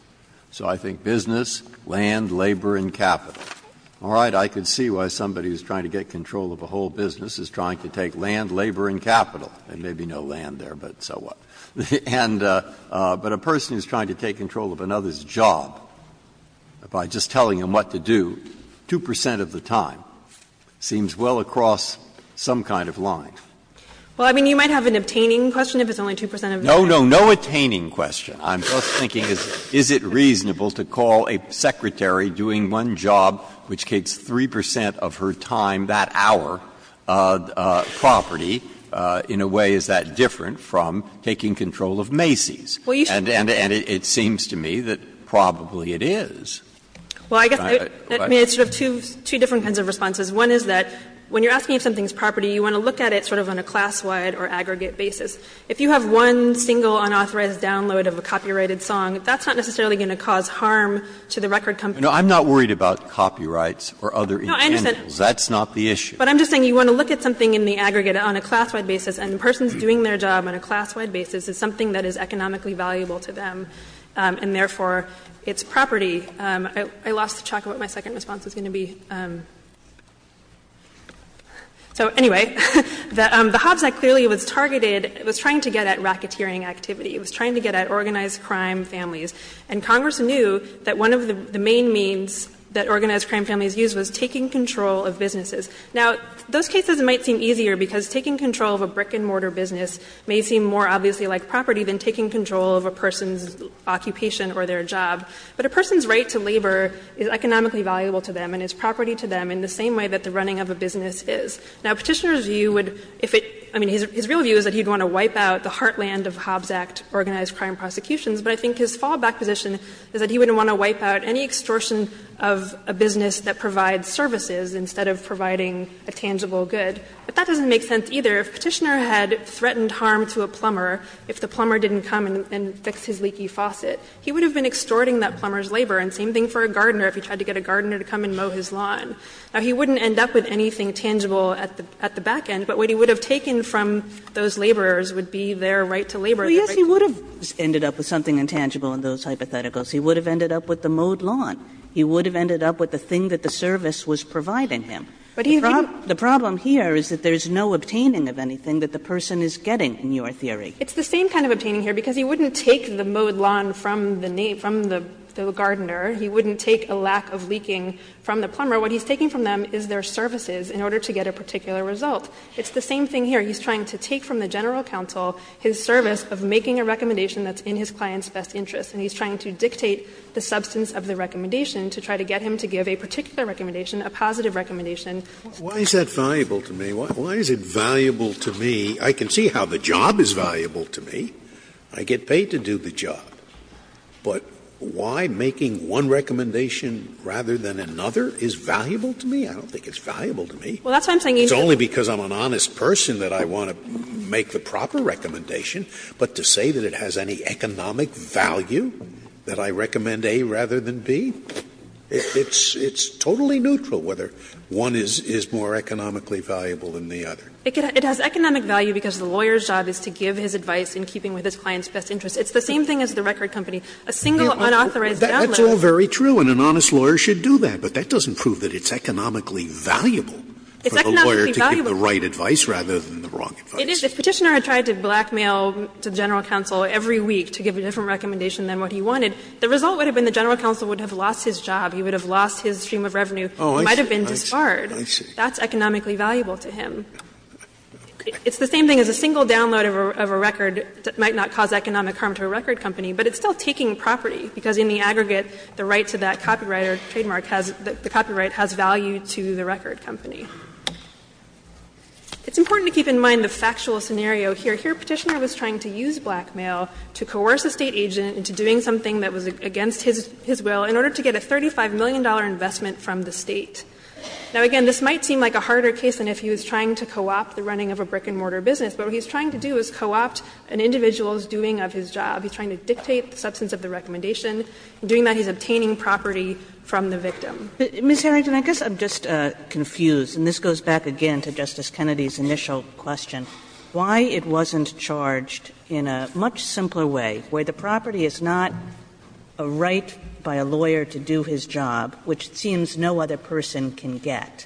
So I think business, land, labor, and capital. All right? I can see why somebody who is trying to get control of a whole business is trying to take land, labor, and capital. There may be no land there, but so what? And but a person who is trying to take control of another's job by just telling him what to do, 2 percent of the time, seems well across some kind of line. Well, I mean, you might have an obtaining question if it's only 2 percent of the time. No, no, no attaining question. I'm just thinking is it reasonable to call a secretary doing one job which takes 3 percent of her time that hour, property, in a way, is that different from taking control of Macy's? And it seems to me that probably it is. Well, I guess, I mean, it's sort of two different kinds of responses. One is that when you're asking if something is property, you want to look at it sort of on a class-wide or aggregate basis. If you have one single unauthorized download of a copyrighted song, that's not necessarily going to cause harm to the record company. No, I'm not worried about copyrights or other intangibles. That's not the issue. But I'm just saying you want to look at something in the aggregate on a class-wide basis, and the person's doing their job on a class-wide basis is something that is I lost track of what my second response was going to be. So anyway, the Hobbs Act clearly was targeted, it was trying to get at racketeering activity. It was trying to get at organized crime families. And Congress knew that one of the main means that organized crime families used was taking control of businesses. Now those cases might seem easier because taking control of a brick and mortar business may seem more obviously like property than taking control of a person's occupation or their job. But a person's right to labor is economically valuable to them and is property to them in the same way that the running of a business is. Now, Petitioner's view would, if it, I mean, his real view is that he would want to wipe out the heartland of Hobbs Act organized crime prosecutions, but I think his fallback position is that he wouldn't want to wipe out any extortion of a business that provides services instead of providing a tangible good. But that doesn't make sense either. If Petitioner had threatened harm to a plumber, if the plumber didn't come and fix his leaky faucet, he would have been extorting that plumber's labor and same thing for a gardener if he tried to get a gardener to come and mow his lawn. Now, he wouldn't end up with anything tangible at the back end. But what he would have taken from those laborers would be their right to labor. Kagan. Kagan. He would have ended up with the mowed lawn. He would have ended up with the thing that the service was providing him. The problem here is that there is no obtaining of anything that the person is getting in your theory. It's the same kind of obtaining here, because he wouldn't take the mowed lawn from the gardener. He wouldn't take a lack of leaking from the plumber. What he's taking from them is their services in order to get a particular result. It's the same thing here. He's trying to take from the general counsel his service of making a recommendation that's in his client's best interest, and he's trying to dictate the substance of the recommendation to try to get him to give a particular recommendation, a positive recommendation. Scalia. Why is that valuable to me? Why is it valuable to me? I can see how the job is valuable to me. I get paid to do the job. But why making one recommendation rather than another is valuable to me? I don't think it's valuable to me. It's only because I'm an honest person that I want to make the proper recommendation. But to say that it has any economic value, that I recommend A rather than B, it's totally neutral whether one is more economically valuable than the other. It has economic value because the lawyer's job is to give his advice in keeping with his client's best interest. It's the same thing as the record company. A single unauthorized download. Scalia, that's all very true, and an honest lawyer should do that. But that doesn't prove that it's economically valuable for the lawyer to give the right advice rather than the wrong advice. It is. If Petitioner had tried to blackmail the general counsel every week to give a different recommendation than what he wanted, the result would have been the general counsel would have lost his job, he would have lost his stream of revenue, might have been disbarred. That's economically valuable to him. It's the same thing as a single download of a record that might not cause economic harm to a record company, but it's still taking property, because in the aggregate, the right to that copyright or trademark has the copyright has value to the record company. It's important to keep in mind the factual scenario here. Here Petitioner was trying to use blackmail to coerce a State agent into doing something that was against his will in order to get a $35 million investment from the State. Now, again, this might seem like a harder case than if he was trying to co-opt the running of a brick-and-mortar business, but what he's trying to do is co-opt an individual's doing of his job. He's trying to dictate the substance of the recommendation. In doing that, he's obtaining property from the victim. Kagan. Kagan. Ms. Harrington, I guess I'm just confused, and this goes back again to Justice Kennedy's initial question, why it wasn't charged in a much simpler way where the property is not a right by a lawyer to do his job, which it seems no other person can get,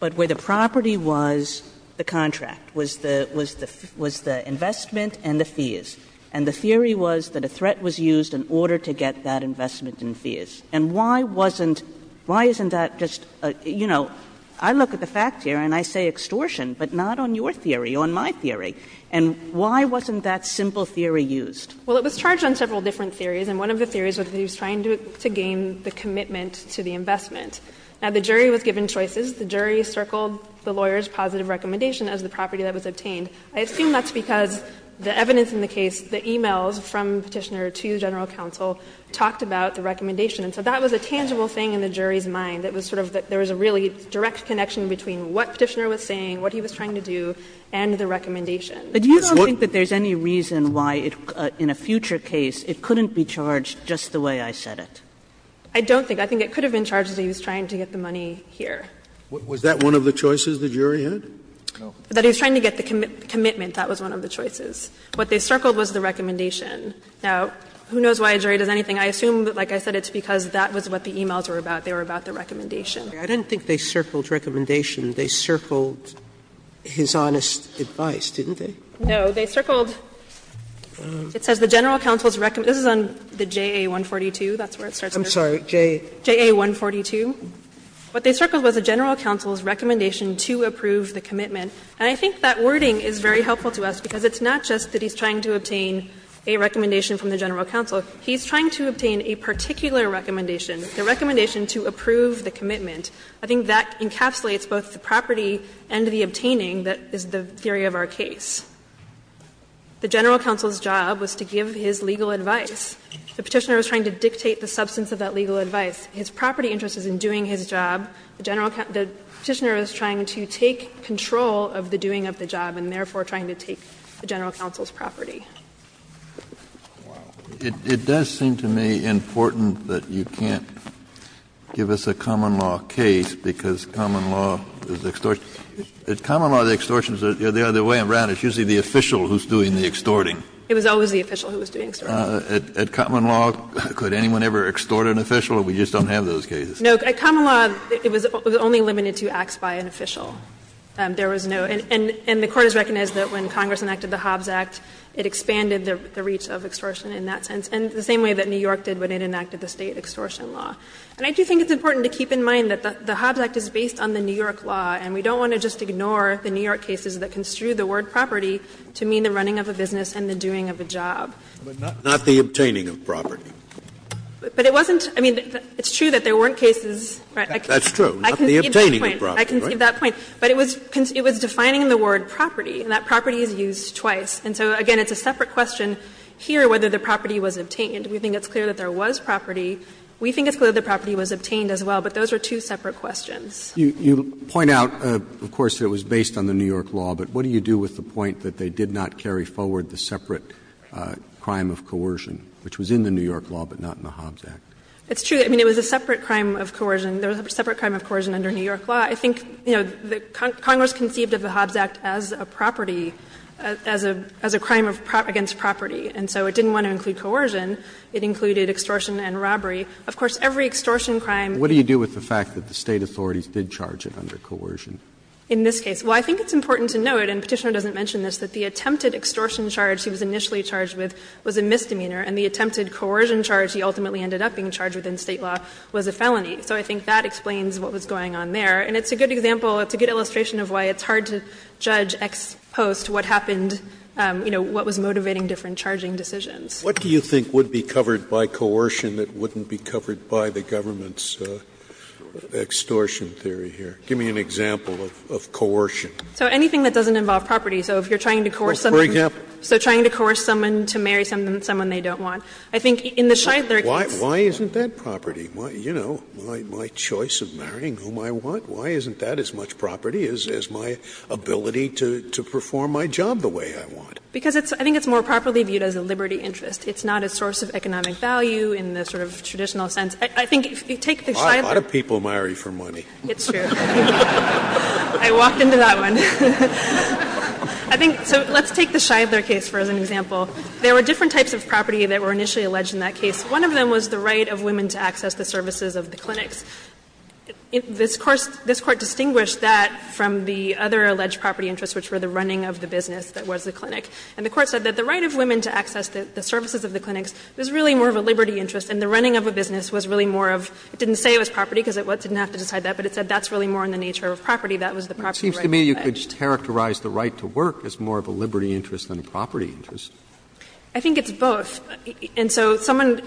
but where the property was the contract, was the investment and the fees. And the theory was that a threat was used in order to get that investment and fees. And why wasn't, why isn't that just a, you know, I look at the facts here and I say extortion, but not on your theory, on my theory. And why wasn't that simple theory used? Well, it was charged on several different theories, and one of the theories was that he was trying to gain the commitment to the investment. Now, the jury was given choices. The jury circled the lawyer's positive recommendation as the property that was obtained. I assume that's because the evidence in the case, the e-mails from Petitioner to the general counsel talked about the recommendation. And so that was a tangible thing in the jury's mind, that was sort of, that there was a really direct connection between what Petitioner was saying, what he was trying to do, and the recommendation. Kagan. But you don't think that there's any reason why it, in a future case, it couldn't be charged just the way I said it? I don't think. I think it could have been charged that he was trying to get the money here. Was that one of the choices the jury had? No. That he was trying to get the commitment, that was one of the choices. What they circled was the recommendation. Now, who knows why a jury does anything. I assume that, like I said, it's because that was what the e-mails were about. They were about the recommendation. I didn't think they circled recommendation. They circled his honest advice, didn't they? No. They circled, it says the general counsel's recommendation. This is on the JA-142. That's where it starts. I'm sorry. JA-142. What they circled was the general counsel's recommendation to approve the commitment. And I think that wording is very helpful to us, because it's not just that he's trying to obtain a recommendation from the general counsel. He's trying to obtain a particular recommendation, the recommendation to approve the commitment. I think that encapsulates both the property and the obtaining that is the theory of our case. The general counsel's job was to give his legal advice. The Petitioner was trying to dictate the substance of that legal advice. His property interest is in doing his job. The Petitioner is trying to take control of the doing of the job and therefore trying to take the general counsel's property. Kennedy, it does seem to me important that you can't give us a common law case, because common law is extortion. In common law, the extortion is the other way around. It's usually the official who's doing the extorting. It was always the official who was doing extorting. Kennedy, at common law, could anyone ever extort an official, or we just don't have those cases? No, at common law, it was only limited to acts by an official. There was no — and the Court has recognized that when Congress enacted the Hobbs Act, it expanded the reach of extortion in that sense, and the same way that New York did when it enacted the State extortion law. And I do think it's important to keep in mind that the Hobbs Act is based on the New York law, and we don't want to just ignore the New York cases that construe the word property to mean the running of a business and the doing of a job. Scalia, but not the obtaining of property. But it wasn't — I mean, it's true that there weren't cases. That's true. Not the obtaining of property. I can give that point. But it was defining the word property, and that property is used twice. And so, again, it's a separate question here whether the property was obtained. We think it's clear that there was property. We think it's clear that the property was obtained as well, but those are two separate questions. You point out, of course, that it was based on the New York law, but what do you do with the point that they did not carry forward the separate crime of coercion, which was in the New York law, but not in the Hobbs Act? It's true. I mean, it was a separate crime of coercion. There was a separate crime of coercion under New York law. I think, you know, Congress conceived of the Hobbs Act as a property, as a crime against property, and so it didn't want to include coercion. It included extortion and robbery. Of course, every extortion crime. What do you do with the fact that the State authorities did charge it under coercion? In this case. Well, I think it's important to note, and Petitioner doesn't mention this, that the attempted extortion charge he was initially charged with was a misdemeanor, and the attempted coercion charge he ultimately ended up being charged with in State law was a felony. So I think that explains what was going on there. And it's a good example, it's a good illustration of why it's hard to judge ex post what happened, you know, what was motivating different charging decisions. Scalia, what do you think would be covered by coercion that wouldn't be covered by the government's extortion theory here? Give me an example of coercion. So anything that doesn't involve property. So if you're trying to coerce someone. For example. So trying to coerce someone to marry someone they don't want. I think in the Shidler case. Why isn't that property? You know, my choice of marrying whom I want, why isn't that as much property as my ability to perform my job the way I want? Because I think it's more properly viewed as a liberty interest. It's not a source of economic value in the sort of traditional sense. I think if you take the Shidler case. A lot of people marry for money. It's true. I walk into that one. I think so let's take the Shidler case for an example. There were different types of property that were initially alleged in that case. One of them was the right of women to access the services of the clinics. This Court distinguished that from the other alleged property interests, which were the running of the business that was the clinic. And the Court said that the right of women to access the services of the clinics was really more of a liberty interest, and the running of a business was really more of — it didn't say it was property because it didn't have to decide that, but it said that's really more in the nature of property. That was the property right alleged. Roberts. Roberts. It seems to me you could characterize the right to work as more of a liberty interest than a property interest. I think it's both. And so someone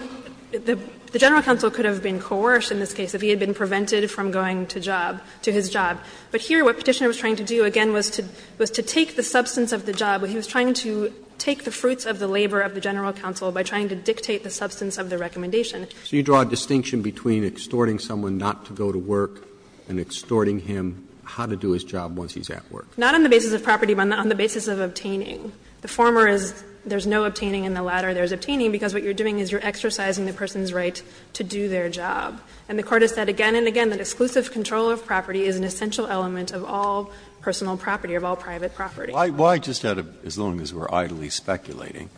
— the general counsel could have been coerced in this case if he had been prevented from going to job, to his job. But here what Petitioner was trying to do, again, was to take the substance of the job. He was trying to take the fruits of the labor of the general counsel by trying to dictate the substance of the recommendation. Roberts. So you draw a distinction between extorting someone not to go to work and extorting him how to do his job once he's at work? Not on the basis of property, but on the basis of obtaining. The former is there's no obtaining, and the latter there's obtaining, because what you're doing is you're exercising the person's right to do their job. And the Court has said again and again that exclusive control of property is an essential element of all personal property, of all private property. Why just out of — as long as we're idly speculating,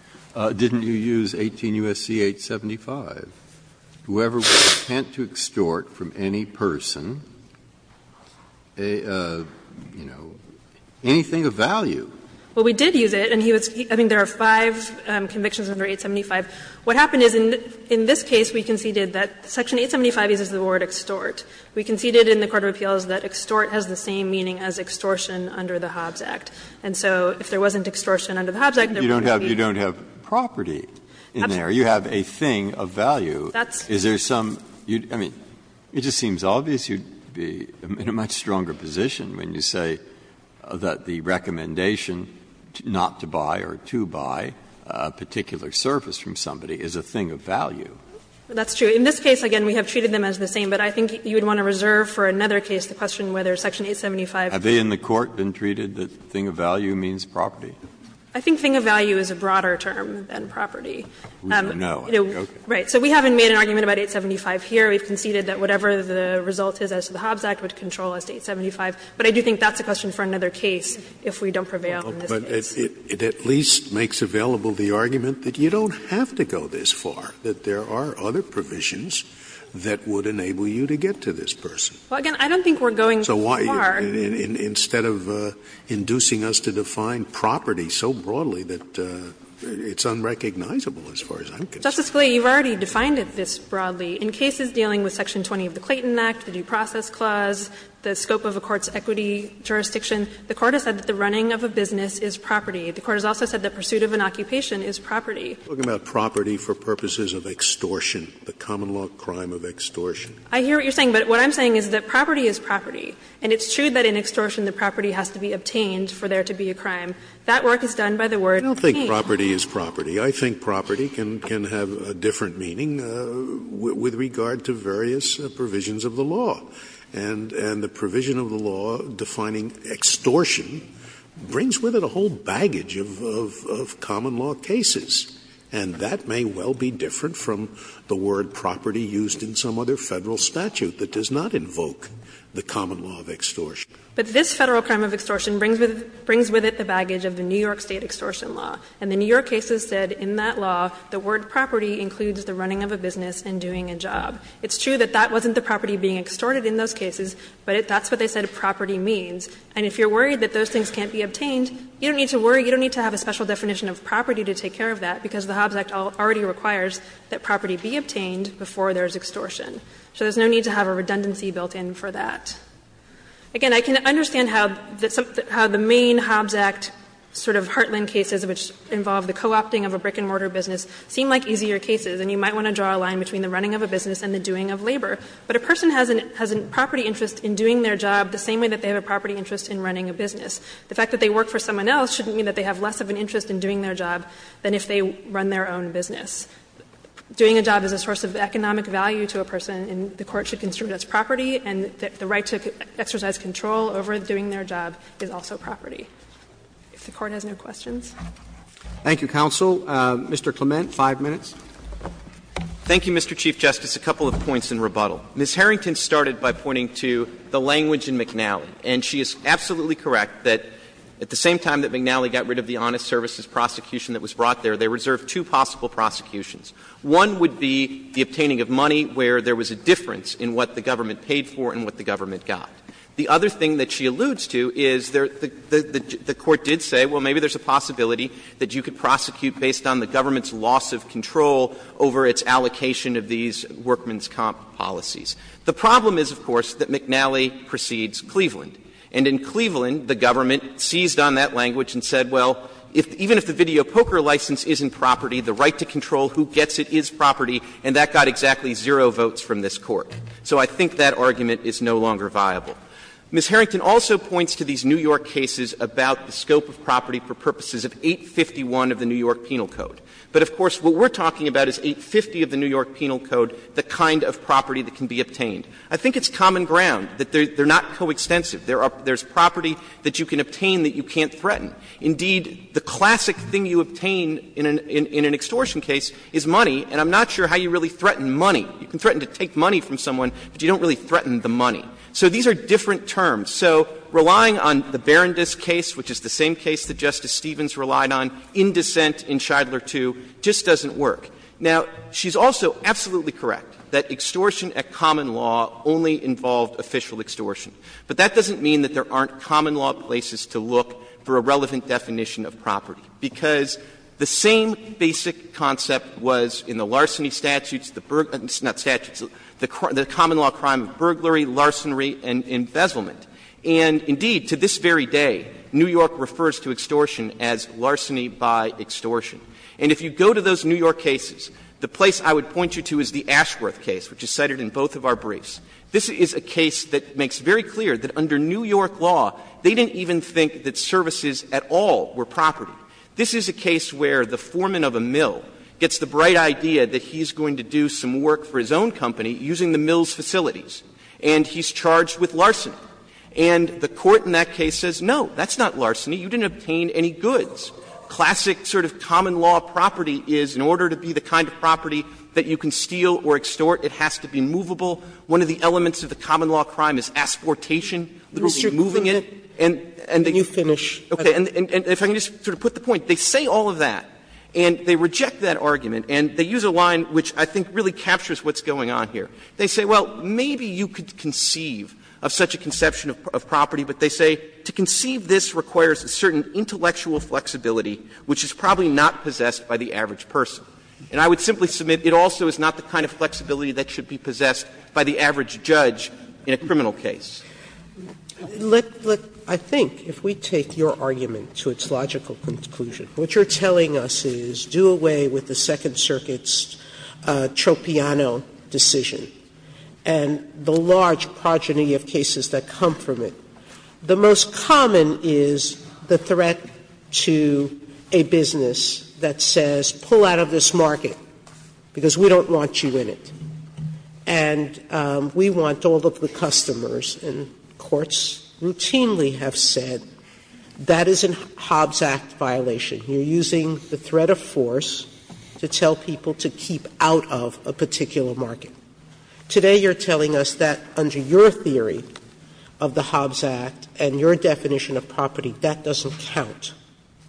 didn't you use 18 U.S.C. 875? Whoever would attempt to extort from any person a, you know, anything of value. Well, we did use it, and he was — I mean, there are five convictions under 875. What happened is in this case we conceded that section 875 uses the word extort. We conceded in the court of appeals that extort has the same meaning as extortion under the Hobbs Act. And so if there wasn't extortion under the Hobbs Act, there wouldn't be. You don't have property in there. You have a thing of value. Is there some — I mean, it just seems obvious you'd be in a much stronger position when you say that the recommendation not to buy or to buy a particular service from somebody is a thing of value. That's true. In this case, again, we have treated them as the same, but I think you would want to reserve for another case the question whether section 875. Have they in the court been treated that thing of value means property? I think thing of value is a broader term than property. Scalia We don't know. Okay. Harrington Right. So we haven't made an argument about 875 here. We've conceded that whatever the result is as to the Hobbs Act would control us to 875. But I do think that's a question for another case if we don't prevail in this case. Scalia But it at least makes available the argument that you don't have to go this far, that there are other provisions that would enable you to get to this person. Harrington Well, again, I don't think we're going far. Scalia So why, instead of inducing us to define property so broadly that it's unrecognizable as far as I'm concerned? Harrington Justice Scalia, you've already defined it this broadly. In cases dealing with section 20 of the Clayton Act, the due process clause, the scope of a court's equity jurisdiction, the Court has said that the running of a business is property. The Court has also said that pursuit of an occupation is property. Scalia Are you talking about property for purposes of extortion, the common law crime of extortion? Harrington I hear what you're saying, but what I'm saying is that property is property. And it's true that in extortion the property has to be obtained for there to be a crime. That work is done by the word paint. Scalia I don't think property is property. I think property can have a different meaning with regard to various provisions of the law. And the provision of the law defining extortion brings with it a whole baggage of common law cases. And that may well be different from the word property used in some other Federal statute that does not invoke the common law of extortion. Harrington But this Federal crime of extortion brings with it the baggage of the New York State extortion law. And the New York cases said in that law the word property includes the running of a business and doing a job. It's true that that wasn't the property being extorted in those cases, but that's what they said property means. And if you're worried that those things can't be obtained, you don't need to worry, you don't need to have a special definition of property to take care of that, because the Hobbs Act already requires that property be obtained before there is extortion. So there's no need to have a redundancy built in for that. Again, I can understand how the main Hobbs Act sort of heartland cases which involve the co-opting of a brick-and-mortar business seem like easier cases, and you might want to draw a line between the running of a business and the doing of labor. But a person has a property interest in doing their job the same way that they have a property interest in running a business. The fact that they work for someone else shouldn't mean that they have less of an interest in doing their job than if they run their own business. Doing a job is a source of economic value to a person, and the Court should consider that as property, and the right to exercise control over doing their job is also property. If the Court has no questions. Roberts. Thank you, counsel. Mr. Clement, 5 minutes. Thank you, Mr. Chief Justice. A couple of points in rebuttal. Ms. Harrington started by pointing to the language in McNally, and she is absolutely correct that at the same time that McNally got rid of the honest services prosecution that was brought there, they reserved two possible prosecutions. One would be the obtaining of money where there was a difference in what the government paid for and what the government got. The other thing that she alludes to is the Court did say, well, maybe there's a possibility that you could prosecute based on the government's loss of control over its allocation of these workman's comp policies. The problem is, of course, that McNally precedes Cleveland. And in Cleveland, the government seized on that language and said, well, even if the government gets it, it is property, and that got exactly zero votes from this Court. So I think that argument is no longer viable. Ms. Harrington also points to these New York cases about the scope of property for purposes of 851 of the New York Penal Code. But, of course, what we're talking about is 850 of the New York Penal Code, the kind of property that can be obtained. I think it's common ground that they're not coextensive. There's property that you can obtain that you can't threaten. Indeed, the classic thing you obtain in an extortion case is money, and I'm not sure how you really threaten money. You can threaten to take money from someone, but you don't really threaten the money. So these are different terms. So relying on the Berendice case, which is the same case that Justice Stevens relied on in dissent in Shidler II, just doesn't work. Now, she's also absolutely correct that extortion at common law only involved official extortion. But that doesn't mean that there aren't common law places to look for a relevant definition of property, because the same basic concept was in the larceny statutes, the burglary — not statutes, the common law crime of burglary, larceny, and embezzlement. And, indeed, to this very day, New York refers to extortion as larceny by extortion. And if you go to those New York cases, the place I would point you to is the Ashworth case, which is cited in both of our briefs. This is a case that makes very clear that under New York law, they didn't even think that services at all were property. This is a case where the foreman of a mill gets the bright idea that he's going to do some work for his own company using the mill's facilities, and he's charged with larceny. And the Court in that case says, no, that's not larceny. You didn't obtain any goods. Classic sort of common law property is, in order to be the kind of property that you can steal or extort, it has to be movable. One of the elements of the common law crime is asportation, literally moving it. And they say all of that, and they reject that argument, and they use a line which I think really captures what's going on here. They say, well, maybe you could conceive of such a conception of property, but they say to conceive this requires a certain intellectual flexibility, which is probably not possessed by the average person. And I would simply submit it also is not the kind of flexibility that should be possessed by the average judge in a criminal case. Sotomayor, I think if we take your argument to its logical conclusion, what you're telling us is do away with the Second Circuit's Troppiano decision and the large progeny of cases that come from it. The most common is the threat to a business that says pull out of this market because we don't want you in it. And we want all of the customers, and courts routinely have said, that is a Hobbs Act violation. You're using the threat of force to tell people to keep out of a particular market. Today you're telling us that under your theory of the Hobbs Act and your definition of property, that doesn't count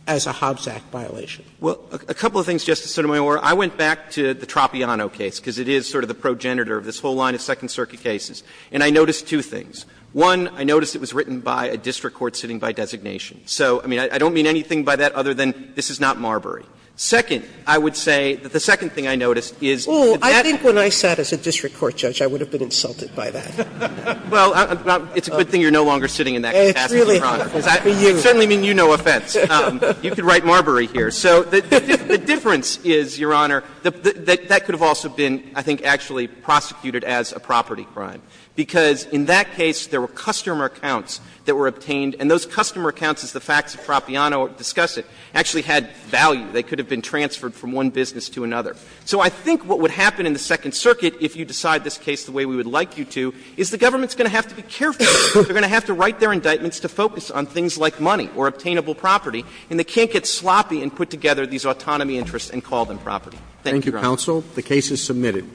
as a Hobbs Act violation. Clements, Well, a couple of things, Justice Sotomayor. I went back to the Troppiano case, because it is sort of the progenitor of this whole line of Second Circuit cases, and I noticed two things. One, I noticed it was written by a district court sitting by designation. So, I mean, I don't mean anything by that other than this is not Marbury. Second, I would say that the second thing I noticed is that that's. Sotomayor, I think when I sat as a district court judge, I would have been insulted by that. Clements, Well, it's a good thing you're no longer sitting in that capacity, Your Honor. Sotomayor, It's really hard for you. Clements, I certainly mean you no offense. You could write Marbury here. So the difference is, Your Honor, that that could have also been, I think, actually prosecuted as a property crime, because in that case there were customer accounts that were obtained, and those customer accounts, as the facts of Troppiano discuss it, actually had value. They could have been transferred from one business to another. So I think what would happen in the Second Circuit, if you decide this case the way we would like you to, is the government is going to have to be careful. They're going to have to write their indictments to focus on things like money or obtainable property, and they can't get sloppy and put together these autonomy interests and call them property. Thank you, Your Honor. Roberts. Thank you, counsel. The case is submitted.